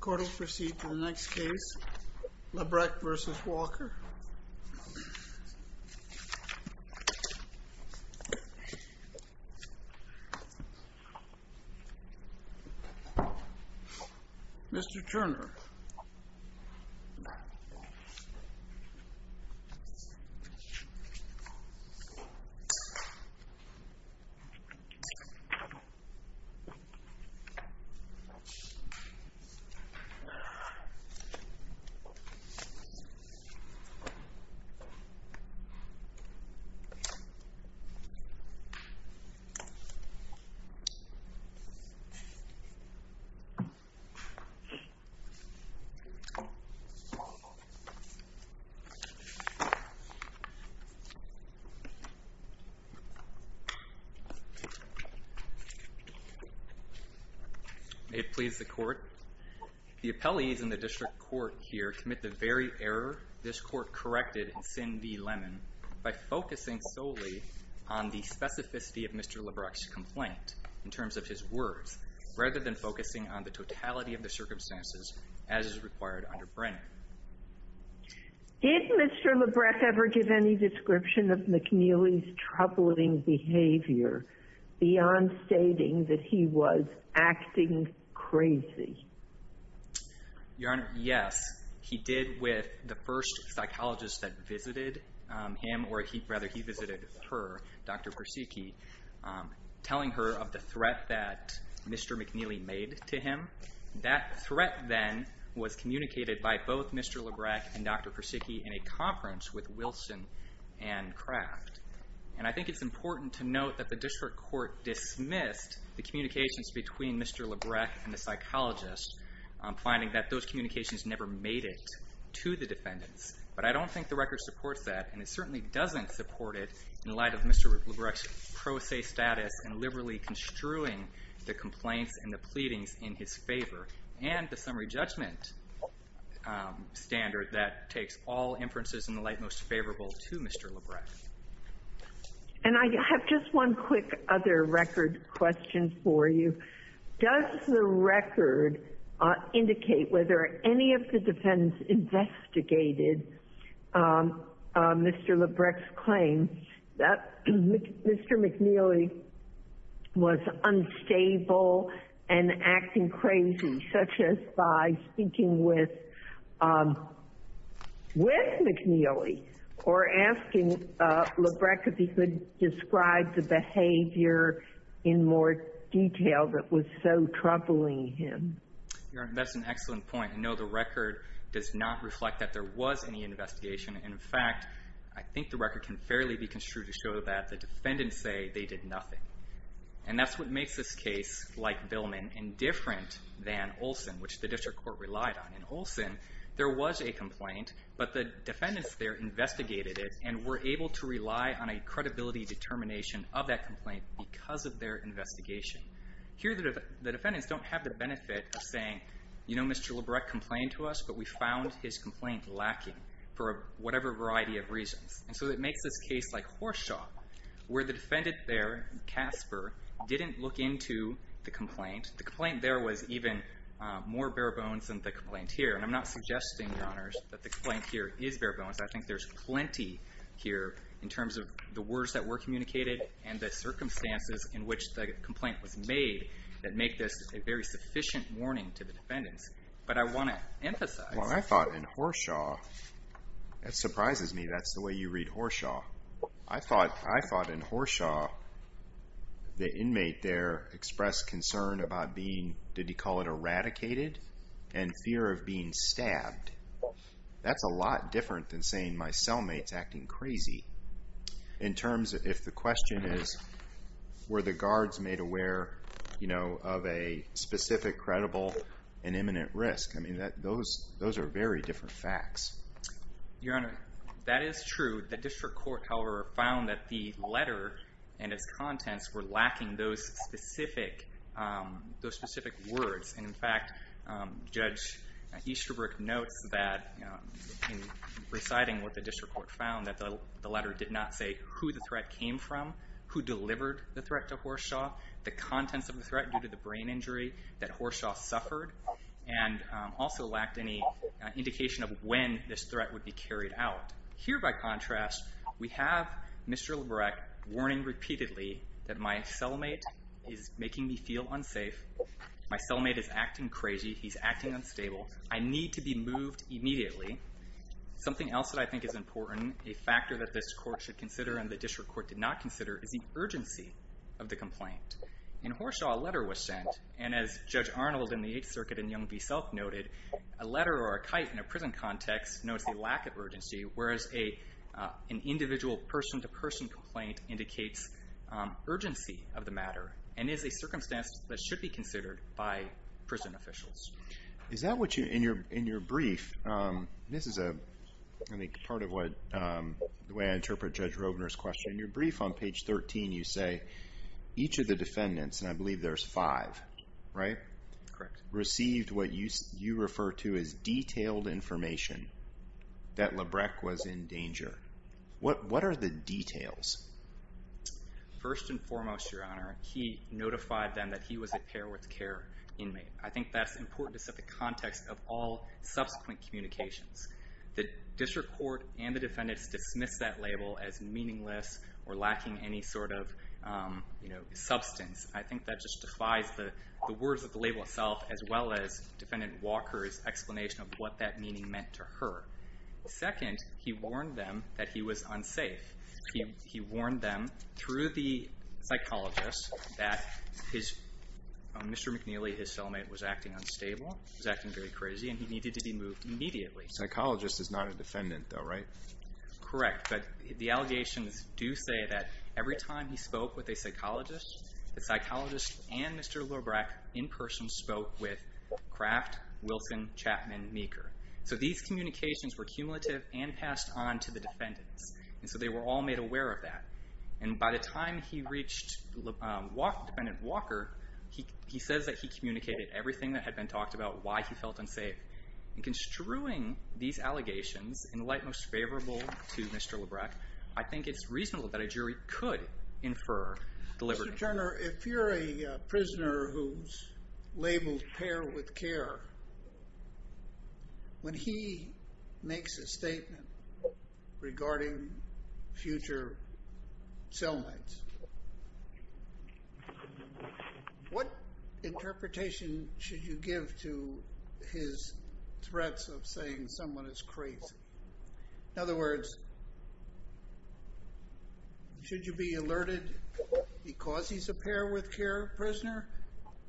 Court will proceed to the next case, Labrec v. Walker. Mr. Turner. It please the Court, the appellees in the district court here commit the very error this court corrected in Sin v. Lemon by focusing solely on the specificity of Mr. Labrec's complaint in terms of his words rather than focusing on the totality of the circumstances as is required under Brennan. Did Mr. Labrec ever give any description of McNeely's troubling behavior beyond stating that he was acting crazy? Your Honor, yes, he did with the first psychologist that visited him, or rather he visited her, Dr. Persicki, telling her of the threat that Mr. McNeely made to him. That threat, then, was communicated by both Mr. Labrec and Dr. Persicki in a conference with Wilson and Kraft, and I think it's important to note that the district court dismissed the communications between Mr. Labrec and the psychologist, finding that those communications never made it to the defendants, but I don't think the record supports that, and it certainly doesn't support it in light of Mr. Labrec's pro se status and liberally construing the complaints and the pleadings in his court. And I have just one quick other record question for you. Does the record indicate whether any of the defendants investigated Mr. Labrec's claim that Mr. McNeely was unstable and acting crazy? Such as by speaking with, with McNeely, or asking Labrec if he could describe the behavior in more detail that was so troubling him? Your Honor, that's an excellent point. I know the record does not reflect that there was any investigation, and in fact, I think the record can fairly be construed to show that the defendants say they did nothing. And that's what makes this case like Billman and different than Olson, which the district court relied on. In Olson, there was a complaint, but the defendants there investigated it and were able to rely on a credibility determination of that complaint because of their investigation. Here, the defendants don't have the benefit of saying, you know, Mr. Labrec complained to us, but we found his complaint lacking for whatever variety of reasons. And so it makes this case like Horshaw, where the defendant there, Casper, didn't look into the complaint. The complaint there was even more bare bones than the complaint here. And I'm not suggesting, Your Honors, that the complaint here is bare bones. I think there's plenty here in terms of the words that were communicated and the circumstances in which the complaint was made that make this a very sufficient warning to the defendants. Well, I thought in Horshaw, it surprises me that's the way you read Horshaw. I thought in Horshaw, the inmate there expressed concern about being, did he call it eradicated? And fear of being stabbed. That's a lot different than saying my cellmate's acting crazy. In terms, if the question is, were the guards made aware, you know, of a specific credible and imminent risk? I mean, those are very different facts. Your Honor, that is true. The district court, however, found that the letter and its contents were lacking those specific words. And in fact, Judge Easterbrook notes that in reciting what the district court found, that the letter did not say who the threat came from, who delivered the threat to Horshaw, the contents of the threat due to the brain injury that Horshaw suffered, and also lacked any indication of when this threat would be carried out. Here, by contrast, we have Mr. Lebrecht warning repeatedly that my cellmate is making me feel unsafe. My cellmate is acting crazy. He's acting unstable. I need to be moved immediately. Something else that I think is important, a factor that this court should consider and the district court did not consider, is the urgency of the complaint. In Horshaw, a letter was sent, and as Judge Arnold in the Eighth Circuit and Young v. Selk noted, a letter or a kite in a prison context notes a lack of urgency, whereas an individual person-to-person complaint indicates urgency of the matter and is a circumstance that should be considered by prison officials. Is that what you, in your brief, and this is part of the way I interpret Judge Robner's question, in your brief on page 13, you say, each of the defendants, and I believe there's five, right? Correct. Received what you refer to as detailed information that Lebrecht was in danger. What are the details? First and foremost, Your Honor, he notified them that he was a pair with care inmate. I think that's important to set the context of all subsequent communications. The district court and the defendants dismissed that label as meaningless or lacking any sort of substance. I think that just defies the words of the label itself as well as Defendant Walker's explanation of what that meaning meant to her. Second, he warned them that he was unsafe. He warned them through the psychologist that Mr. McNeely, his cellmate, was acting unstable, was acting very crazy, and he needed to be moved immediately. Psychologist is not a defendant though, right? Correct. But the allegations do say that every time he spoke with a psychologist, the psychologist and Mr. Lebrecht in person spoke with Kraft, Wilson, Chapman, Meeker. So these communications were cumulative and passed on to the defendants. And so they were all made aware of that. And by the time he reached Defendant Walker, he says that he communicated everything that had been talked about, why he felt unsafe. In construing these allegations in light most favorable to Mr. Lebrecht, I think it's reasonable that a jury could infer the liberty. Mr. Turner, if you're a prisoner who's labeled pair with care, when he makes a statement regarding future cellmates, what interpretation should you give to his threats of saying someone is crazy? In other words, should you be alerted because he's a pair with care prisoner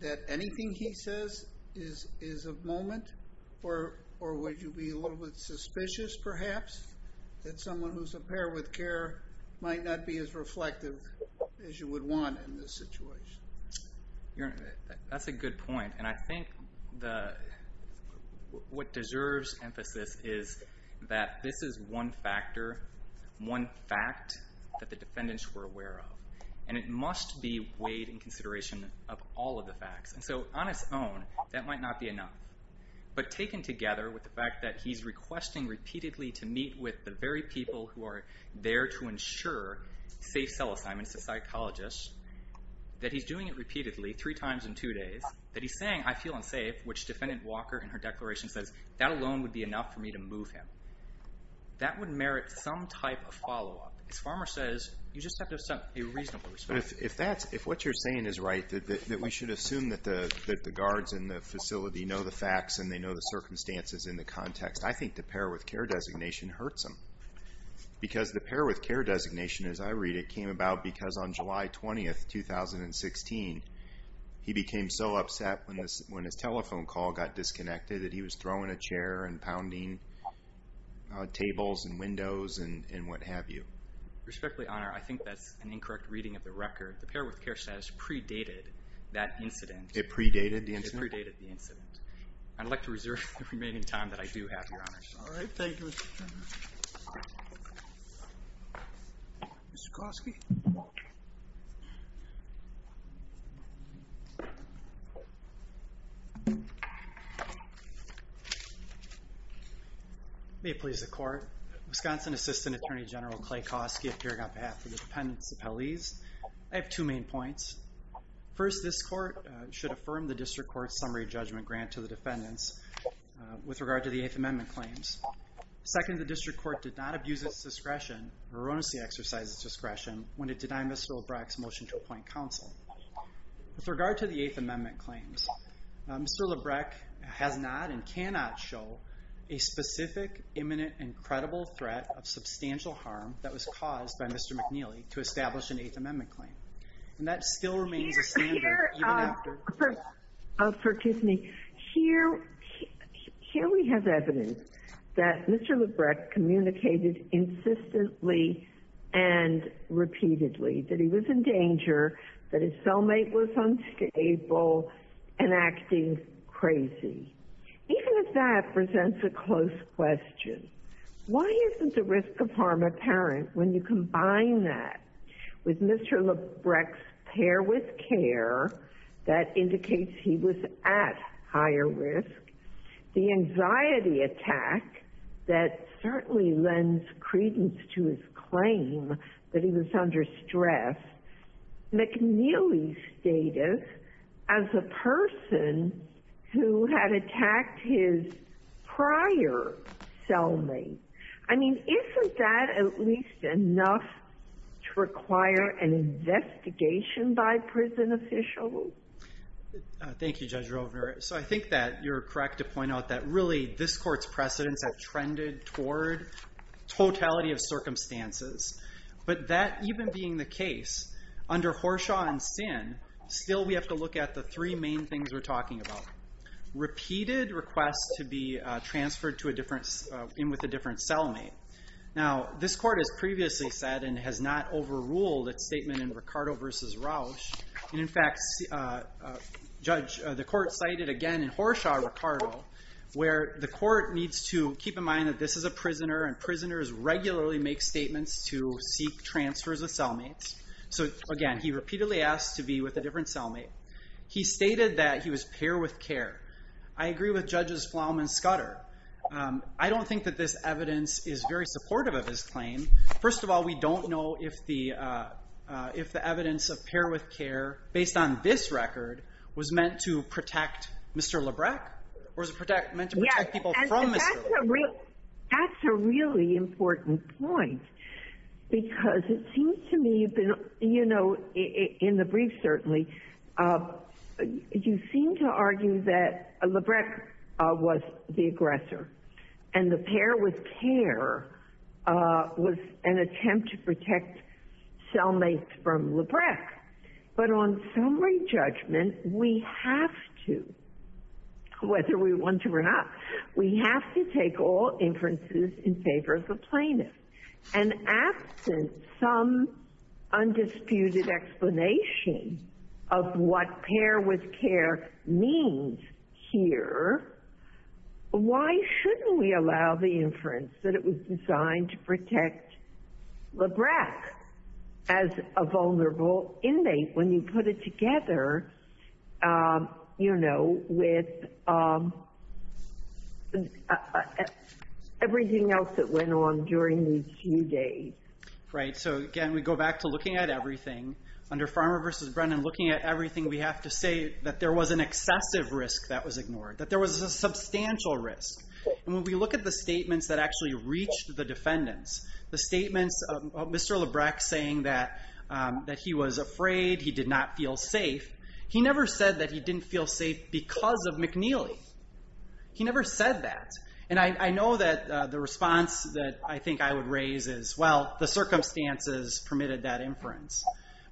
that anything he says is a moment? Or would you be a little bit suspicious perhaps that someone who's a pair with care might not be as reflective as you would want in this situation? That's a good point. And I think what deserves emphasis is that this is one factor, one fact that the defendants were aware of. And it must be weighed in consideration of all of the facts. And so on its own, that might not be enough. But taken together with the fact that he's requesting repeatedly to meet with the very people who are there to ensure safe cell assignments to psychologists, that he's doing it repeatedly, three times in two days, that he's saying, I feel unsafe, which Defendant Walker in her declaration says, that alone would be enough for me to move him. That would merit some type of follow-up. As Farmer says, you just have to have a reasonable response. But if what you're saying is right, that we should assume that the guards in the facility know the facts and they know the circumstances in the context, I think the pair with care designation hurts him. Because the pair with care designation, as I read it, came about because on July 20, 2016, he became so upset when his telephone call got disconnected that he was throwing a chair and pounding tables and windows and what have you. Respectfully, Honor, I think that's an incorrect reading of the record. The pair with care status predated that incident. It predated the incident? It predated the incident. I'd like to reserve the remaining time that I do have, Your Honor. All right. Thank you, Mr. Chairman. Mr. Kosky? May it please the Court. Wisconsin Assistant Attorney General Clay Kosky appearing on behalf of the defendants' appellees. I have two main points. First, this Court should affirm the district court's summary judgment grant to the defendants with regard to the Eighth Amendment claims. Second, the district court did not abuse its discretion or erroneously exercise its discretion when it denied Mr. Lebrecht's motion to appoint counsel. With regard to the Eighth Amendment claims, Mr. Lebrecht has not and cannot show a specific, imminent, and credible threat of substantial harm that was caused by Mr. McNeely to establish an Eighth Amendment claim. And that still remains a standard, even after— Here we have evidence that Mr. Lebrecht communicated insistently and repeatedly that he was in danger, that his cellmate was unstable, and acting crazy. Even if that presents a close question, why isn't the risk of harm apparent when you combine that with Mr. Lebrecht's pair with care that indicates he was at higher risk, the anxiety attack that certainly lends credence to his claim that he was under stress, McNeely's status as a person who had attacked his prior cellmate. I mean, isn't that at least enough to require an investigation by prison officials? Thank you, Judge Rovner. So I think that you're correct to point out that really this Court's precedents have trended toward totality of circumstances. But that even being the case, under Horshaw and Sin, still we have to look at the three main things we're talking about. Repeated requests to be transferred in with a different cellmate. Now, this Court has previously said and has not overruled its statement in Ricardo v. Rausch. And in fact, Judge, the Court cited again in Horshaw-Ricardo, where the Court needs to keep in mind that this is a prisoner, and prisoners regularly make statements to seek transfers of cellmates. So again, he repeatedly asked to be with a different cellmate. He stated that he was pair with care. I agree with Judges Flom and Scudder. I don't think that this evidence is very supportive of his claim. First of all, we don't know if the evidence of pair with care, based on this record, was meant to protect Mr. Lebrecht, or was it meant to protect people from Mr. Lebrecht. That's a really important point. Because it seems to me, you know, in the brief certainly, you seem to argue that Lebrecht was the aggressor. And the pair with care was an attempt to protect cellmates from Lebrecht. But on summary judgment, we have to, whether we want to or not, we have to take all inferences in favor of the plaintiff. And absent some undisputed explanation of what pair with care means here, why shouldn't we allow the inference that it was designed to protect Lebrecht as a vulnerable inmate, when you put it together, you know, with everything else that went on during these few days. Right. So again, we go back to looking at everything. Under Farmer v. Brennan, looking at everything, we have to say that there was an excessive risk that was ignored. That there was a substantial risk. And when we look at the statements that actually reached the defendants, the statements of Mr. Lebrecht saying that he was afraid, he did not feel safe, he never said that he didn't feel safe because of McNeely. He never said that. And I know that the response that I think I would raise is, well, the circumstances permitted that inference.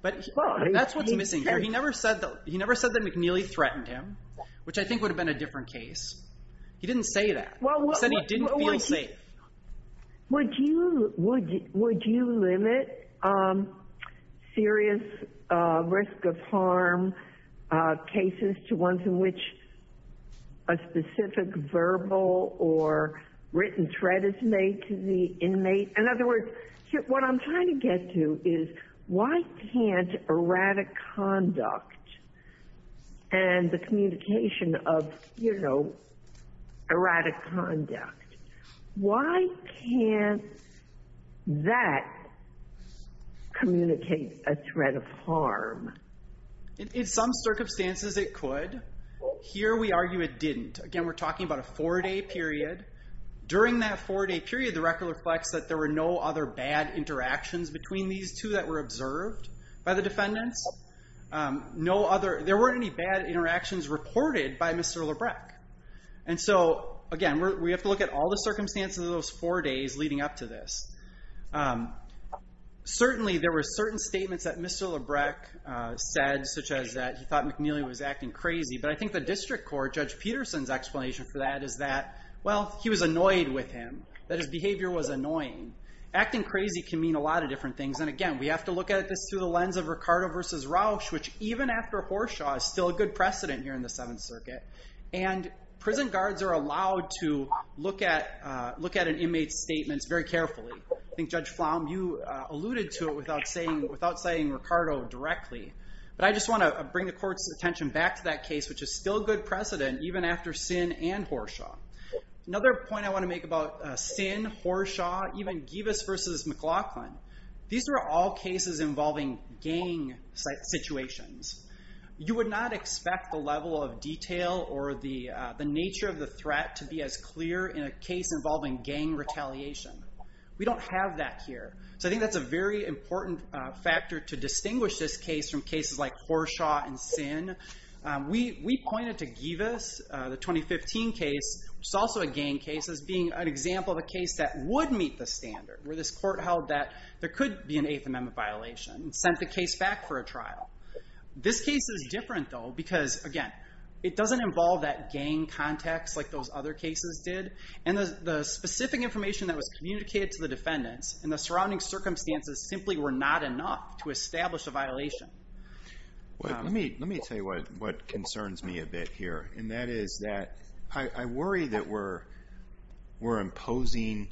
But that's what's missing here. He never said that McNeely threatened him, which I think would have been a different case. He didn't say that. He said he didn't feel safe. Would you limit serious risk of harm cases to ones in which a specific verbal or written threat is made to the inmate? In other words, what I'm trying to get to is, why can't erratic conduct and the communication of erratic conduct, why can't that communicate a threat of harm? In some circumstances, it could. Here, we argue it didn't. Again, we're talking about a four-day period. During that four-day period, the record reflects that there were no other bad interactions between these two that were observed by the defendants. There weren't any bad interactions reported by Mr. Lebrecht. And so, again, we have to look at all the circumstances of those four days leading up to this. Certainly, there were certain statements that Mr. Lebrecht said, such as that he thought McNeely was acting crazy. But I think the district court, Judge Peterson's explanation for that is that, well, he was annoyed with him, that his behavior was annoying. Acting crazy can mean a lot of different things. And, again, we have to look at this through the lens of Ricardo versus Rauch, which, even after Horshaw, is still a good precedent here in the Seventh Circuit. And prison guards are allowed to look at an inmate's statements very carefully. I think, Judge Pflaum, you alluded to it without citing Ricardo directly. But I just want to bring the court's attention back to that case, which is still a good precedent, even after Sinn and Horshaw. Another point I want to make about Sinn, Horshaw, even Givas versus McLaughlin, these are all cases involving gang situations. You would not expect the level of detail or the nature of the threat to be as clear in a case involving gang retaliation. We don't have that here. So I think that's a very important factor to distinguish this case from cases like Horshaw and Sinn. We pointed to Givas, the 2015 case, which is also a gang case, as being an example of a case that would meet the standard, where this court held that there could be an Eighth Amendment violation and sent the case back for a trial. This case is different, though, because, again, it doesn't involve that gang context like those other cases did. And the specific information that was communicated to the defendants in the surrounding circumstances simply were not enough to establish a violation. Let me tell you what concerns me a bit here, and that is that I worry that we're imposing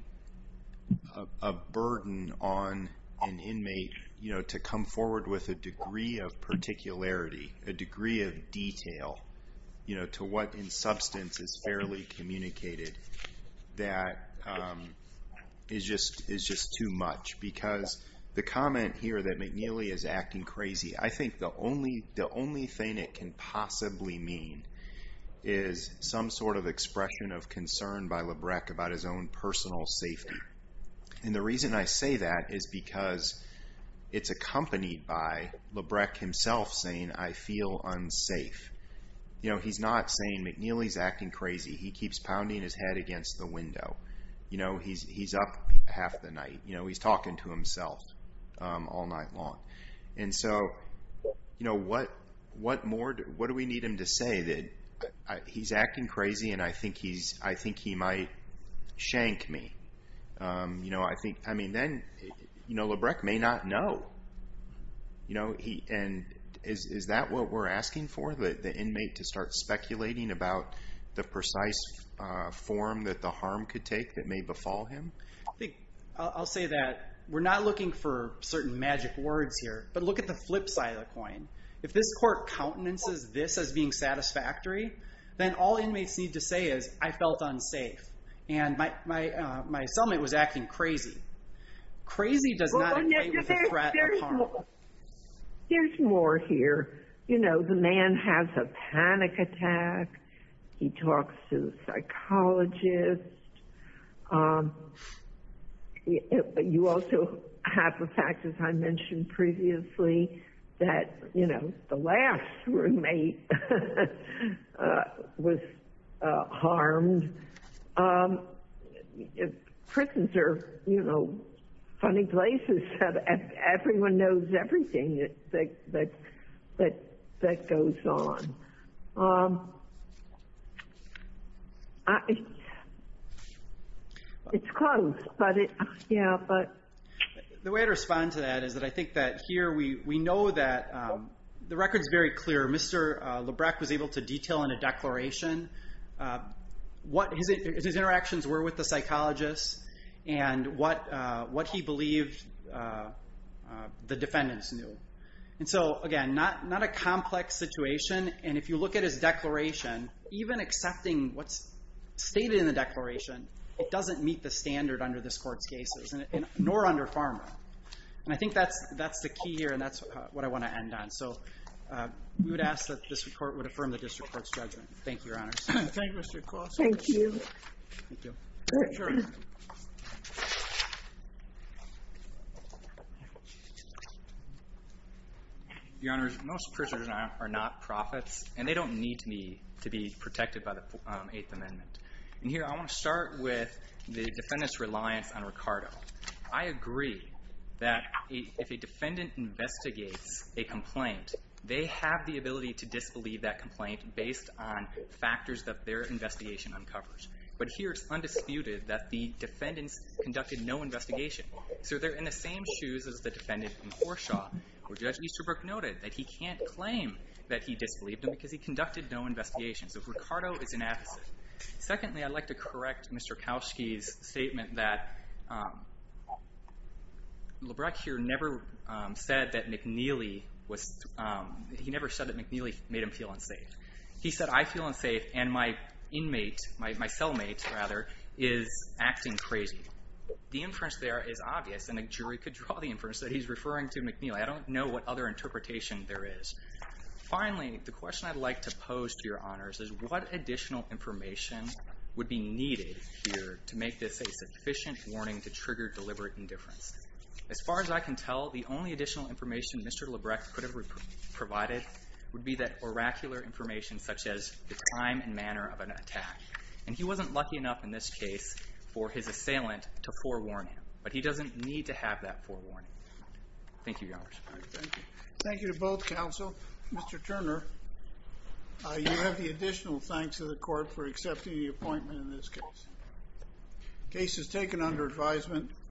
a burden on an inmate to come forward with a degree of particularity, a degree of detail to what, in substance, is fairly communicated that is just too much. Because the comment here that McNeely is acting crazy, I think the only thing it can possibly mean is some sort of expression of concern by Labreck about his own personal safety. And the reason I say that is because it's accompanied by Labreck himself saying, I feel unsafe. He's not saying McNeely's acting crazy. He keeps pounding his head against the window. He's up half the night. He's talking to himself all night long. And so what more do we need him to say that he's acting crazy and I think he might shank me? I mean, then Labreck may not know. And is that what we're asking for, the inmate to start speculating about the precise form that the harm could take that may befall him? I'll say that we're not looking for certain magic words here, but look at the flip side of the coin. If this court countenances this as being satisfactory, then all inmates need to say is, I felt unsafe. And my cellmate was acting crazy. Crazy does not equate with the threat of harm. There's more here. You know, the man has a panic attack. He talks to the psychologist. You also have the fact, as I mentioned previously, that, you know, the last roommate was harmed. Prisons are, you know, funny places. Everyone knows everything that goes on. It's close, but yeah. The way I'd respond to that is that I think that here we know that the record's very clear. Mr. Labreck was able to detail in a declaration what his interactions were with the psychologist, and what he believed the defendants knew. And so, again, not a complex situation. And if you look at his declaration, even accepting what's stated in the declaration, it doesn't meet the standard under this court's cases, nor under Pharma. And I think that's the key here, and that's what I want to end on. So we would ask that this report would affirm the district court's judgment. Thank you, Your Honors. Thank you, Mr. Cross. Thank you. Your Honors, most prisoners are not prophets, and they don't need to be protected by the Eighth Amendment. And here I want to start with the defendant's reliance on Ricardo. I agree that if a defendant investigates a complaint, they have the ability to disbelieve that complaint based on factors that their investigation uncovers. But here it's undisputed that the defendants conducted no investigation. So they're in the same shoes as the defendant in Horeshaw, where Judge Easterbrook noted that he can't claim that he disbelieved him because he conducted no investigation. So Ricardo is inadequate. Secondly, I'd like to correct Mr. Kowski's statement that Lebrecht here never said that McNeely made him feel unsafe. He said, I feel unsafe, and my cellmate is acting crazy. The inference there is obvious, and a jury could draw the inference that he's referring to McNeely. I don't know what other interpretation there is. Finally, the question I'd like to pose to your honors is what additional information would be needed here to make this a sufficient warning to trigger deliberate indifference. As far as I can tell, the only additional information Mr. Lebrecht could have provided would be that oracular information such as the time and manner of an attack. And he wasn't lucky enough in this case for his assailant to forewarn him, but he doesn't need to have that forewarning. Thank you, your honors. Thank you. Thank you to both counsel. Mr. Turner, you have the additional thanks of the court for accepting the appointment in this case. Case is taken under advisement.